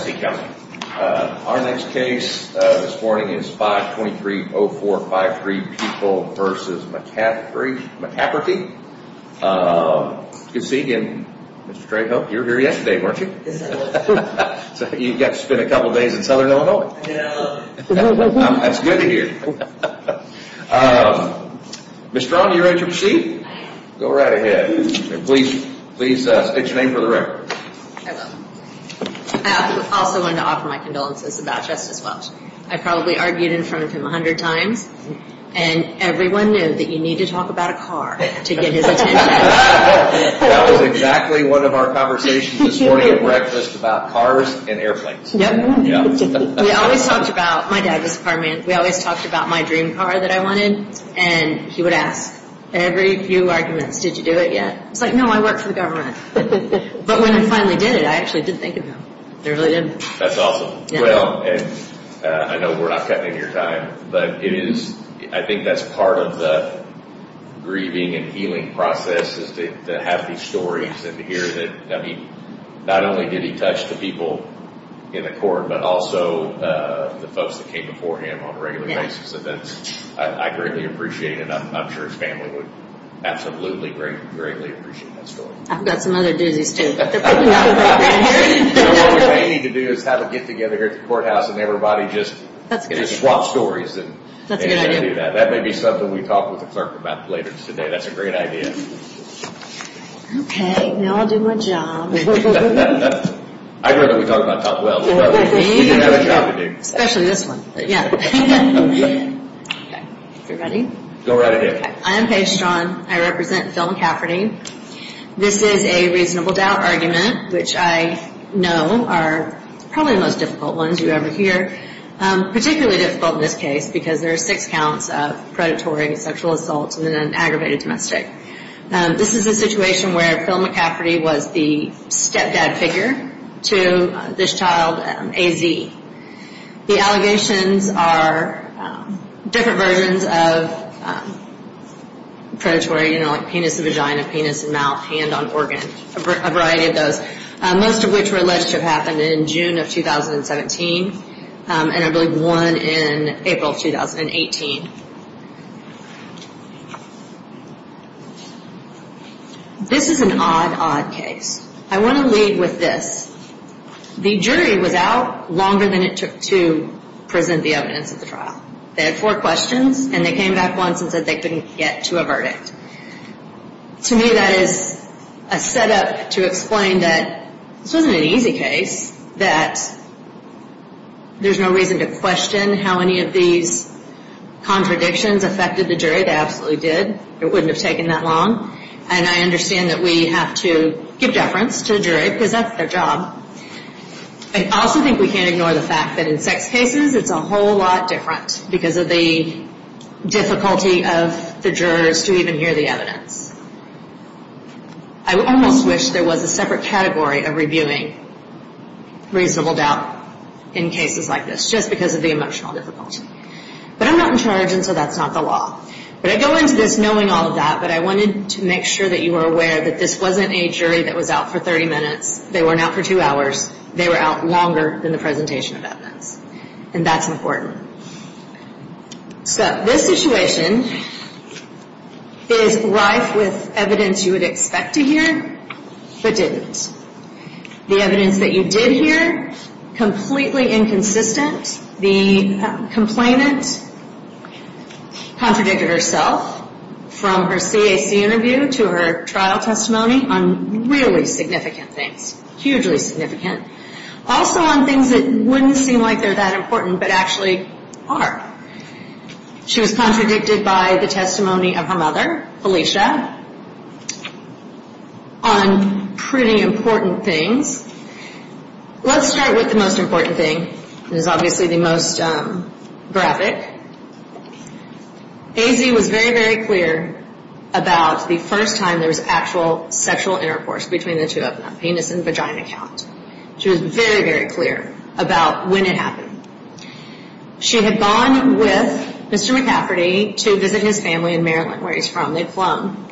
Our next case this morning is 523-0453, People v. McCafferty. Good to see you again, Mr. Trejo. You were here yesterday, weren't you? Yes, I was. So you've got to spend a couple of days in Southern Illinois. I know. That's good to hear. Ms. Strong, are you ready to proceed? I am. Go right ahead. Please state your name for the record. I also wanted to offer my condolences about Justice Welch. I probably argued in front of him a hundred times, and everyone knew that you need to talk about a car to get his attention. That was exactly one of our conversations this morning at breakfast about cars and airplanes. My dad was a car man. We always talked about my dream car that I wanted, and he would ask, every few arguments, did you do it yet? I was like, no, I work for the government. But when I finally did it, I actually did think of him. I really did. That's awesome. I know we're not cutting into your time, but I think that's part of the grieving and healing process is to have these stories and to hear that not only did he touch the people in the court, but also the folks that came before him on a regular basis. I greatly appreciate it, and I'm sure his family would absolutely greatly appreciate that story. I've got some other doozies, too, but they're probably not appropriate. What we may need to do is have a get-together here at the courthouse and everybody just swap stories and do that. That may be something we talk with the clerk about later today. That's a great idea. Okay, now I'll do my job. I heard that we talked about Tom Welch. We do have a job to do. Especially this one. If you're ready. Go right ahead. Hi, I'm Paige Straughan. I represent Phil McCafferty. This is a reasonable doubt argument, which I know are probably the most difficult ones you ever hear. Particularly difficult in this case because there are six counts of predatory sexual assault in an aggravated domestic. This is a situation where Phil McCafferty was the stepdad figure to this child, AZ. The allegations are different versions of predatory. You know, like penis and vagina, penis and mouth, hand on organ. A variety of those. Most of which were alleged to have happened in June of 2017 and I believe one in April of 2018. This is an odd, odd case. I want to lead with this. The jury was out longer than it took to present the evidence at the trial. They had four questions and they came back once and said they couldn't get to a verdict. To me that is a setup to explain that this wasn't an easy case. That there's no reason to question how any of these contradictions affected the jury. They absolutely did. It wouldn't have taken that long. And I understand that we have to give deference to the jury because that's their job. I also think we can't ignore the fact that in sex cases it's a whole lot different. Because of the difficulty of the jurors to even hear the evidence. I almost wish there was a separate category of reviewing reasonable doubt in cases like this. Just because of the emotional difficulty. But I'm not in charge and so that's not the law. But I go into this knowing all of that. But I wanted to make sure that you were aware that this wasn't a jury that was out for 30 minutes. They weren't out for two hours. They were out longer than the presentation of evidence. And that's important. So this situation is rife with evidence you would expect to hear but didn't. The evidence that you did hear, completely inconsistent. The complainant contradicted herself from her CAC interview to her trial testimony on really significant things. Hugely significant. Also on things that wouldn't seem like they're that important but actually are. She was contradicted by the testimony of her mother, Felicia, on pretty important things. Let's start with the most important thing. It is obviously the most graphic. AZ was very, very clear about the first time there was actual sexual intercourse between the two of them. Penis and vagina count. She was very, very clear about when it happened. She had gone with Mr. McCafferty to visit his family in Maryland where he's from. They'd flown.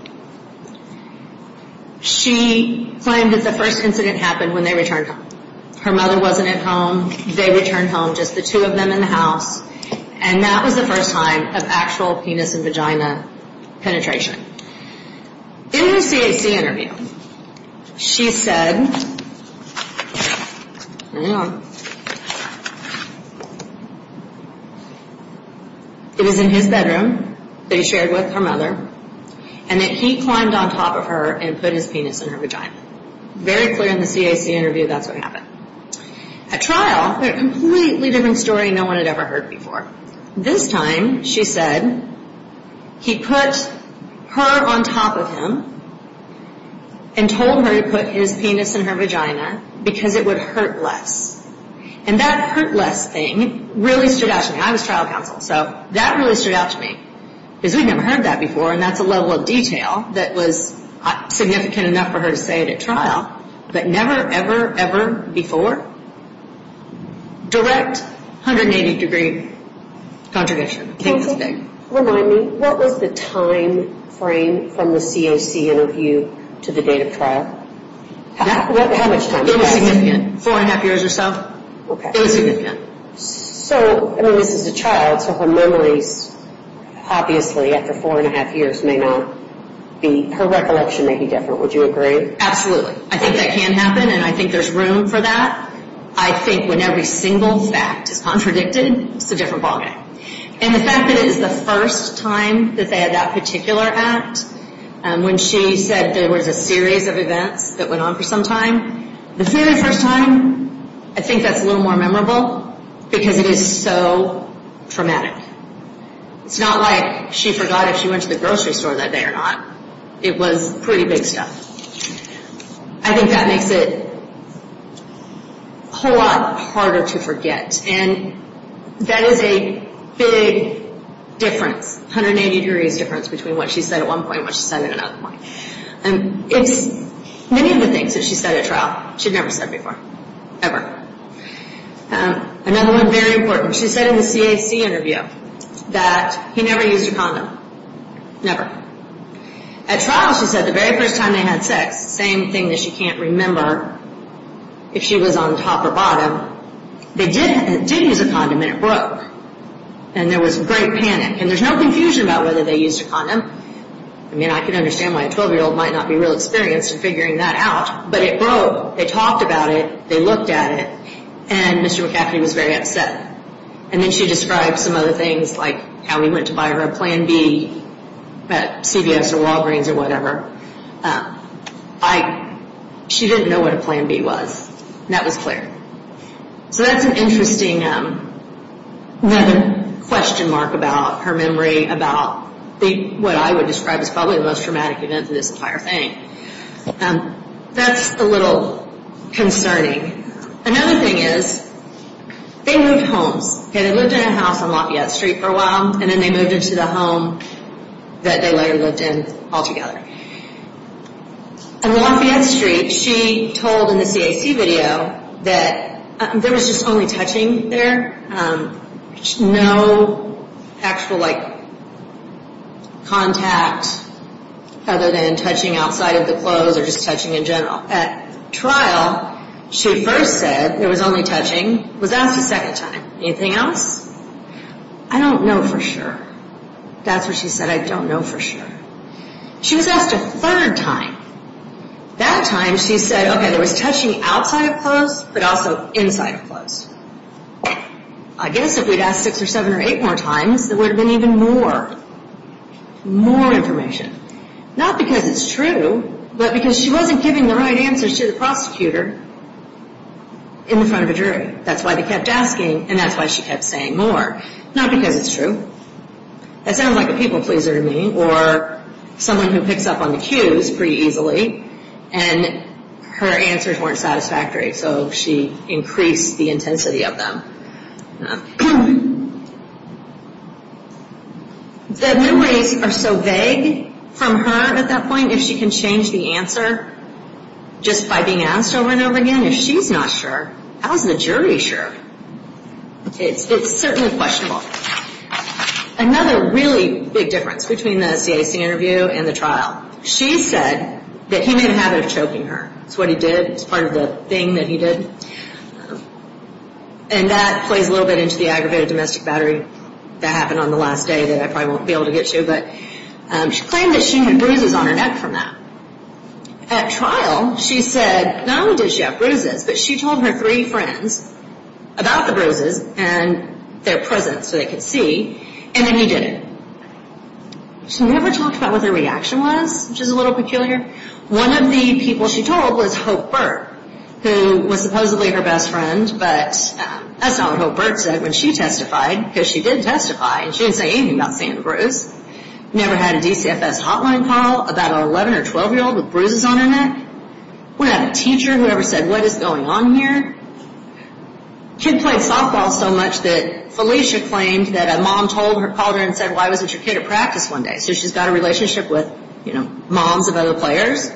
She claimed that the first incident happened when they returned home. Her mother wasn't at home. They returned home, just the two of them in the house. And that was the first time of actual penis and vagina penetration. In her CAC interview, she said, it was in his bedroom that he shared with her mother. And that he climbed on top of her and put his penis in her vagina. Very clear in the CAC interview that's what happened. At trial, a completely different story no one had ever heard before. This time, she said, he put her on top of him and told her to put his penis in her vagina because it would hurt less. And that hurt less thing really stood out to me. I was trial counsel, so that really stood out to me. Because we'd never heard that before and that's a level of detail that was significant enough for her to say it at trial. But never, ever, ever before. Direct 180 degree contradiction. Can you remind me, what was the time frame from the CAC interview to the date of trial? How much time? Four and a half years or so. Okay. It was significant. So, I mean, this is a child, so her memories, obviously, after four and a half years may not be, her recollection may be different. Would you agree? Absolutely. I think that can happen and I think there's room for that. I think when every single fact is contradicted, it's a different ballgame. And the fact that it's the first time that they had that particular act, when she said there was a series of events that went on for some time, the very first time, I think that's a little more memorable because it is so traumatic. It's not like she forgot if she went to the grocery store that day or not. It was pretty big stuff. I think that makes it a whole lot harder to forget and that is a big difference, 180 degrees difference between what she said at one point and what she said at another point. Many of the things that she said at trial, she'd never said before, ever. Another one, very important, she said in the CAC interview that he never used a condom, never. At trial, she said the very first time they had sex, same thing that she can't remember if she was on top or bottom, they did use a condom and it broke and there was great panic and there's no confusion about whether they used a condom. I mean, I can understand why a 12-year-old might not be real experienced in figuring that out, but it broke. They talked about it. They looked at it and Mr. McAfee was very upset. And then she described some other things like how we went to buy her a Plan B at CVS or Walgreens or whatever. She didn't know what a Plan B was and that was clear. So that's an interesting question mark about her memory about what I would describe as probably the most traumatic event of this entire thing. That's a little concerning. Another thing is they moved homes. They lived in a house on Lafayette Street for a while and then they moved into the home that they later lived in altogether. On Lafayette Street, she told in the CAC video that there was just only touching there. No actual, like, contact other than touching outside of the clothes or just touching in general. At trial, she first said there was only touching, was asked a second time. Anything else? I don't know for sure. That's what she said, I don't know for sure. She was asked a third time. That time she said, okay, there was touching outside of clothes but also inside of clothes. I guess if we'd asked six or seven or eight more times, there would have been even more, more information. Not because it's true, but because she wasn't giving the right answers to the prosecutor in front of a jury. That's why they kept asking and that's why she kept saying more. Not because it's true. That sounds like a people pleaser to me or someone who picks up on the cues pretty easily and her answers weren't satisfactory so she increased the intensity of them. The memories are so vague from her at that point, if she can change the answer just by being asked over and over again, if she's not sure, how is the jury sure? It's certainly questionable. Another really big difference between the CAC interview and the trial, she said that he made a habit of choking her. It's what he did, it's part of the thing that he did. And that plays a little bit into the aggravated domestic battery that happened on the last day that I probably won't be able to get to, but she claimed that she had bruises on her neck from that. At trial, she said not only did she have bruises, but she told her three friends about the bruises and their presence so they could see, and then he did it. She never talked about what their reaction was, which is a little peculiar. One of the people she told was Hope Burt, who was supposedly her best friend, but that's not what Hope Burt said when she testified, because she did testify, and she didn't say anything about seeing the bruise. Never had a DCFS hotline call about an 11 or 12 year old with bruises on her neck. Wouldn't have a teacher who ever said, what is going on here? Kid played softball so much that Felicia claimed that a mom called her and said, why wasn't your kid at practice one day? So she's got a relationship with moms of other players.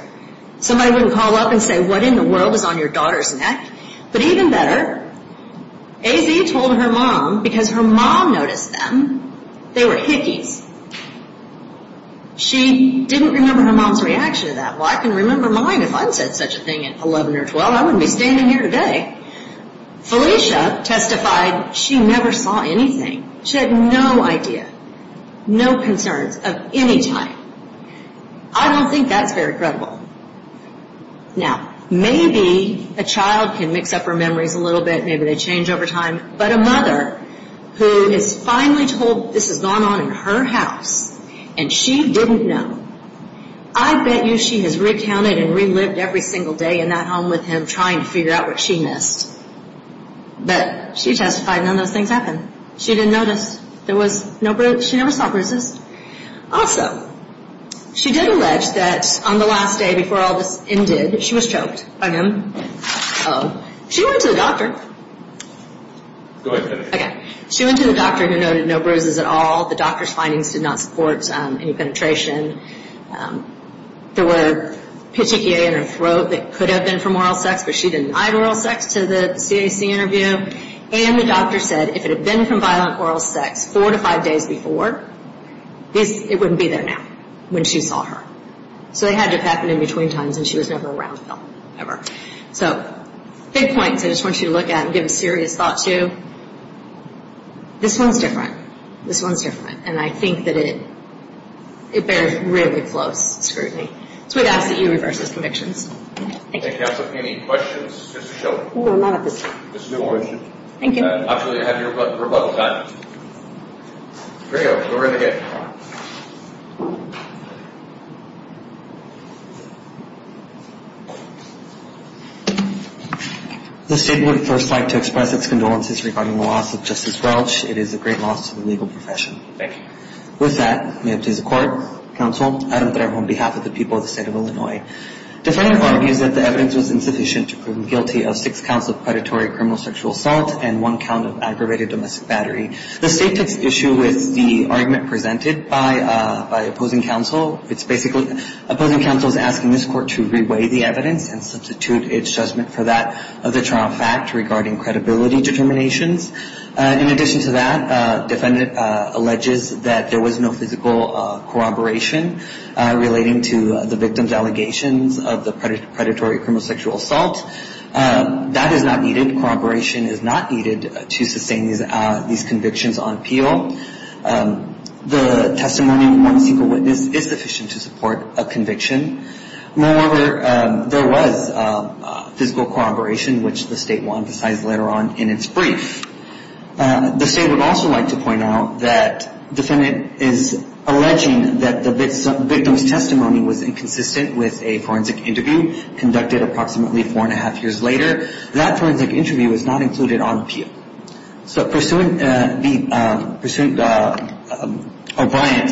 Somebody wouldn't call up and say, what in the world was on your daughter's neck? But even better, AZ told her mom, because her mom noticed them, they were hickeys. She didn't remember her mom's reaction to that. Well, I can remember mine if I said such a thing at 11 or 12. I wouldn't be standing here today. Felicia testified she never saw anything. She had no idea, no concerns of any type. I don't think that's very credible. Now, maybe a child can mix up her memories a little bit. Maybe they change over time. But a mother who is finally told this has gone on in her house and she didn't know, I bet you she has recounted and relived every single day in that home with him trying to figure out what she missed. But she testified none of those things happened. She didn't notice there was no bruises. She never saw bruises. Also, she did allege that on the last day before all this ended, she was choked by him. She went to the doctor. She went to the doctor who noted no bruises at all. The doctor's findings did not support any penetration. There were petechiae in her throat that could have been from oral sex, but she denied oral sex to the CAC interview. And the doctor said if it had been from violent oral sex four to five days before, it wouldn't be there now when she saw her. So they had to have happened in between times, and she was never around Phil ever. So big points I just want you to look at and give a serious thought to. This one's different. This one's different, and I think that it bears really close scrutiny. So we'd ask that you reverse those convictions. Thank you. Thank you, Counselor. Any questions? No, not at this time. No questions. Thank you. Actually, I have your rebuttal time. Great. We're going to get going. The State would first like to express its condolences regarding the loss of Justice Welch. It is a great loss to the legal profession. Thank you. With that, may it please the Court, Counsel, Adam Trejo on behalf of the people of the State of Illinois. Defendant argues that the evidence was insufficient to prove him guilty of six counts of predatory criminal sexual assault and one count of aggravated domestic battery. The State takes issue with the argument presented by opposing counsel. It's basically opposing counsel is asking this Court to reweigh the evidence and substitute its judgment for that of the trial fact regarding credibility determinations. In addition to that, defendant alleges that there was no physical corroboration relating to the victim's allegations of the predatory criminal sexual assault. That is not needed. Corroboration is not needed to sustain these convictions on appeal. The testimony of one single witness is sufficient to support a conviction. Moreover, there was physical corroboration, which the State will emphasize later on in its brief. The State would also like to point out that defendant is alleging that the victim's testimony was inconsistent with a forensic interview conducted approximately four and a half years later. That forensic interview was not included on appeal. So pursuant to O'Brien,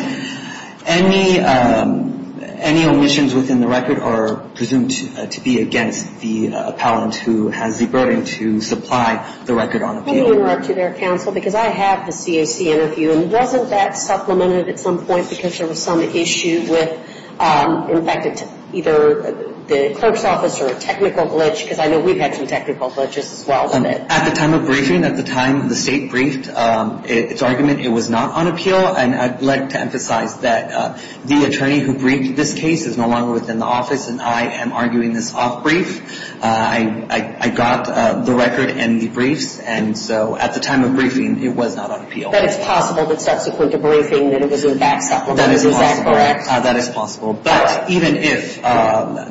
any omissions within the record are presumed to be against the appellant who has the burden to supply the record on appeal. Let me interrupt you there, counsel, because I have the CAC interview. And wasn't that supplemented at some point because there was some issue with, in fact, either the clerk's office or a technical glitch? Because I know we've had some technical glitches as well. At the time of briefing, at the time the State briefed its argument, it was not on appeal. And I'd like to emphasize that the attorney who briefed this case is no longer within the office, and I am arguing this off-brief. I got the record and the briefs. And so at the time of briefing, it was not on appeal. But it's possible that subsequent to briefing that it was, in fact, supplemented. Is that correct? That is possible. But even if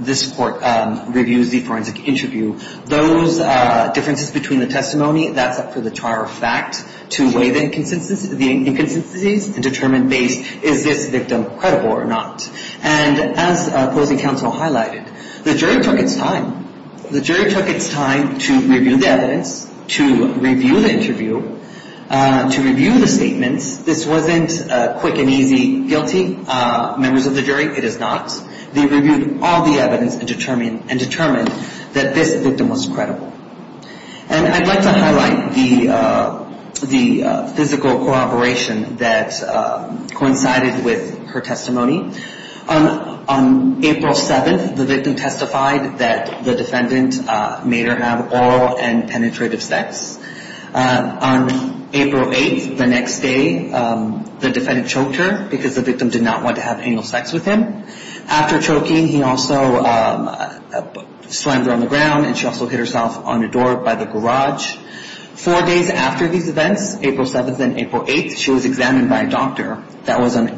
this court reviews the forensic interview, those differences between the testimony, that's up for the char of fact to weigh the inconsistencies and determine based is this victim credible or not. And as opposing counsel highlighted, the jury took its time. The jury took its time to review the evidence, to review the interview, to review the statements. This wasn't quick and easy guilty. Members of the jury, it is not. They reviewed all the evidence and determined that this victim was credible. And I'd like to highlight the physical corroboration that coincided with her testimony. On April 7th, the victim testified that the defendant made her have oral and penetrative sex. On April 8th, the next day, the defendant choked her because the victim did not want to have anal sex with him. After choking, he also slammed her on the ground and she also hit herself on the door by the garage. Four days after these events, April 7th and April 8th, she was examined by a doctor. That was on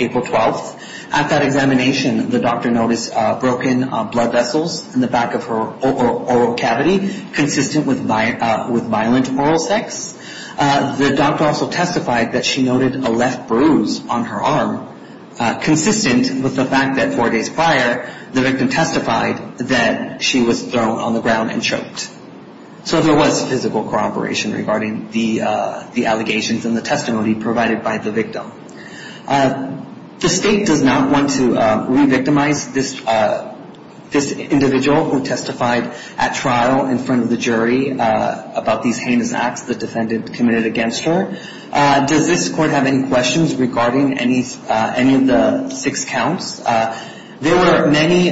April 12th. At that examination, the doctor noticed broken blood vessels in the back of her oral cavity consistent with violent oral sex. The doctor also testified that she noted a left bruise on her arm consistent with the fact that four days prior, the victim testified that she was thrown on the ground and choked. So there was physical corroboration regarding the allegations and the testimony provided by the victim. The state does not want to re-victimize this individual who testified at trial in front of the jury about these heinous acts the defendant committed against her. Does this court have any questions regarding any of the six counts? There were many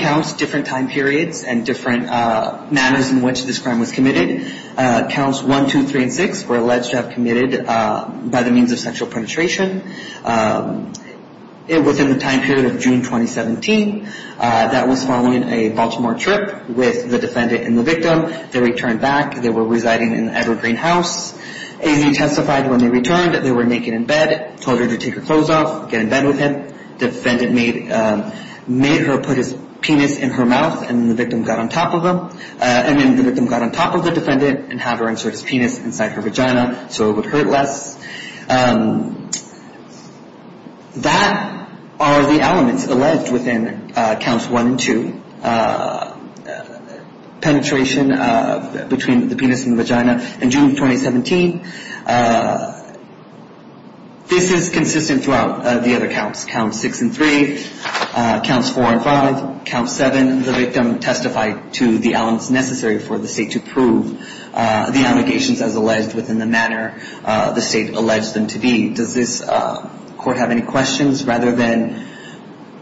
counts, different time periods, and different manners in which this crime was committed. Counts 1, 2, 3, and 6 were alleged to have committed by the means of sexual penetration. It was in the time period of June 2017. That was following a Baltimore trip with the defendant and the victim. They returned back. They were residing in the Edward Green House. AZ testified when they returned that they were naked in bed, told her to take her clothes off, get in bed with him. Defendant made her put his penis in her mouth and then the victim got on top of the defendant and had her insert his penis inside her vagina so it would hurt less. That are the elements alleged within Counts 1 and 2. Penetration between the penis and the vagina in June 2017. This is consistent throughout the other counts, Counts 6 and 3, Counts 4 and 5, Counts 7. The victim testified to the elements necessary for the state to prove the allegations as alleged within the manner the state alleged them to be. Does this court have any questions rather than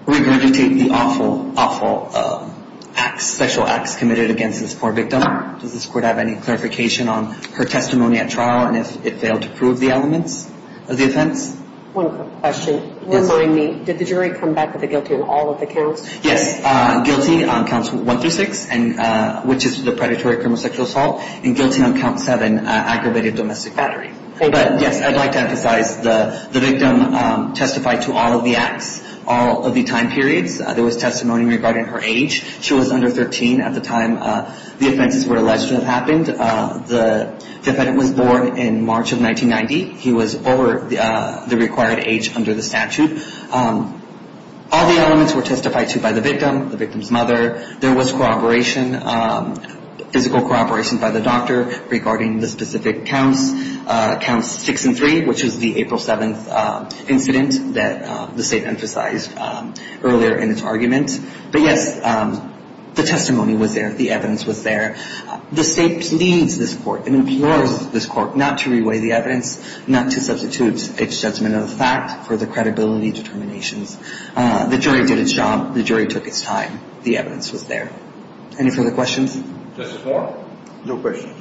regurgitate the awful, awful acts, sexual acts committed against this poor victim? Does this court have any clarification on her testimony at trial? And if it failed to prove the elements of the offense? One quick question. Remind me, did the jury come back with a guilty on all of the counts? Yes. Guilty on Counts 1 through 6, which is the predatory criminal sexual assault. And guilty on Count 7, aggravated domestic battery. But yes, I'd like to emphasize the victim testified to all of the acts, all of the time periods. There was testimony regarding her age. She was under 13 at the time the offenses were alleged to have happened. The defendant was born in March of 1990. He was over the required age under the statute. All the elements were testified to by the victim, the victim's mother. There was corroboration, physical corroboration by the doctor regarding the specific counts, Counts 6 and 3, which was the April 7th incident that the state emphasized earlier in its argument. But yes, the testimony was there. The evidence was there. The state needs this court and implores this court not to re-weigh the evidence, not to substitute its judgment of the fact for the credibility determinations. The jury did its job. The jury took its time. The evidence was there. Any further questions? Justice Moore? No questions.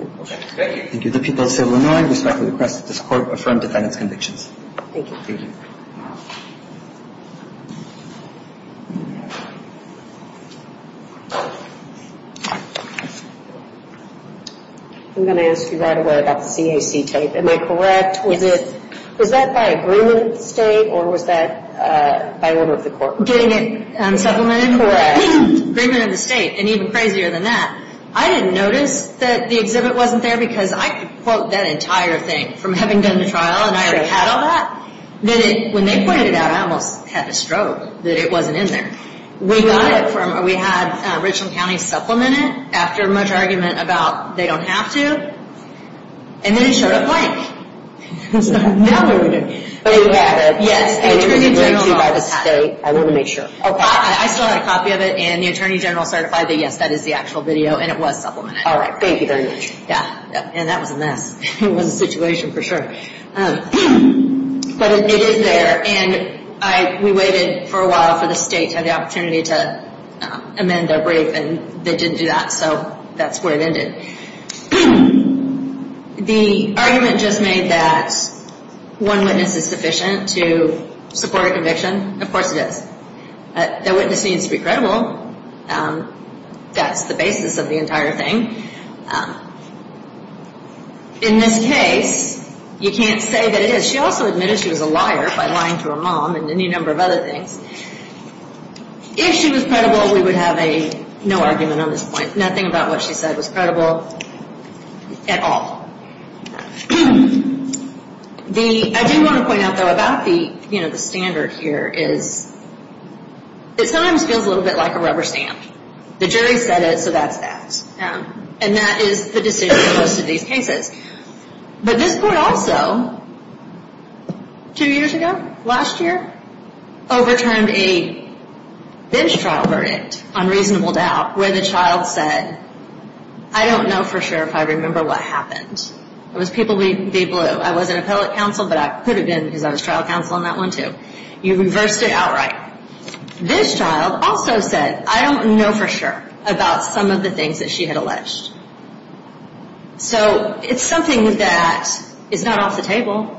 Okay. Thank you. Thank you. The people of Civil Illinois respectfully request that this court affirm defendant's convictions. Thank you. Thank you. I'm going to ask you right away about the CAC tape. Am I correct? Yes. Was that by agreement of the state or was that by order of the court? Getting it supplemented? Correct. Agreement of the state. And even crazier than that, I didn't notice that the exhibit wasn't there because I could quote that entire thing from having done the trial and I already had all that, that when they pointed it out, I almost had a stroke that it wasn't in there. We got it from or we had Richland County supplement it after much argument about they don't have to and then it showed up blank. That would have been good. But you have it. Yes. It was agreed to by the state. I want to make sure. I still have a copy of it and the Attorney General certified that, yes, that is the actual video and it was supplemented. All right. Thank you very much. Yeah. And that was a mess. It was a situation for sure. But it is there. And we waited for a while for the state to have the opportunity to amend their brief and they didn't do that. So that's where it ended. The argument just made that one witness is sufficient to support a conviction. Of course it is. That witness needs to be credible. That's the basis of the entire thing. In this case, you can't say that it is. But she also admitted she was a liar by lying to her mom and any number of other things. If she was credible, we would have no argument on this point, nothing about what she said was credible at all. I do want to point out, though, about the standard here is it sometimes feels a little bit like a rubber stamp. The jury said it, so that's that. And that is the decision in most of these cases. But this court also, two years ago, last year, overturned a bench trial verdict on reasonable doubt where the child said, I don't know for sure if I remember what happened. It was people being blue. I was an appellate counsel, but I could have been because I was trial counsel on that one too. You reversed it outright. This child also said, I don't know for sure about some of the things that she had alleged. So it's something that is not off the table.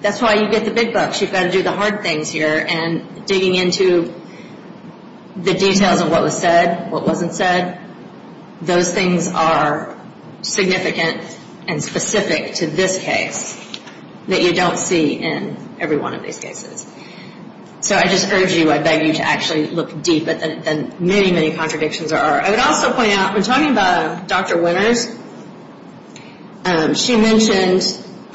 That's why you get the big bucks. You've got to do the hard things here. And digging into the details of what was said, what wasn't said, those things are significant and specific to this case that you don't see in every one of these cases. So I just urge you, I beg you to actually look deep at the many, many contradictions there are. I would also point out, when talking about Dr. Winters, she mentioned,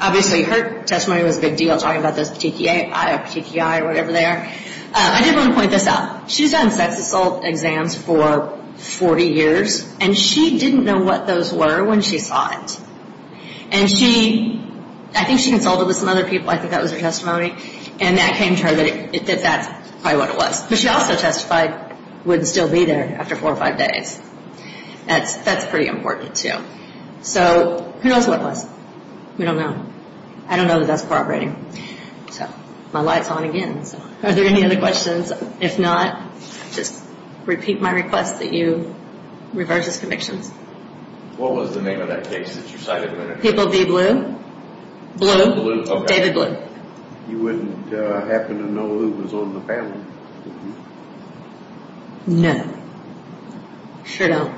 obviously her testimony was a big deal, talking about those petechiae or whatever they are. I did want to point this out. She's had sex assault exams for 40 years, and she didn't know what those were when she saw it. And she, I think she consulted with some other people. I think that was her testimony. And that came to her that that's probably what it was. But she also testified, would still be there after four or five days. That's pretty important, too. So who knows what it was? We don't know. I don't know that that's corroborating. So my light's on again. Are there any other questions? If not, just repeat my request that you reverse his convictions. What was the name of that case that you cited? People v. Blue? Blue. David Blue. You wouldn't happen to know who was on the family? No. Sure don't.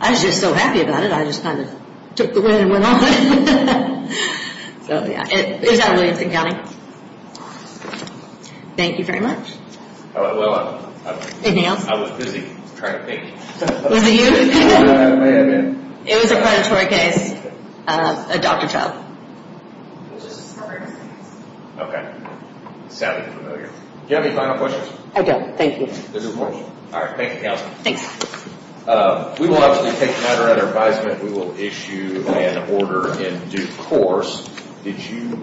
I was just so happy about it, I just kind of took the win and went on. So, yeah. It was out of Williamson County. Thank you very much. Well, I was busy trying to think. Was it you? I may have been. It was a predatory case. A doctor's help. Okay. Sounded familiar. Do you have any final questions? I don't. Thank you. This is important. All right. Thank you, Counsel. Thanks. We will obviously take matter under advisement. We will issue an order in due course. Did you...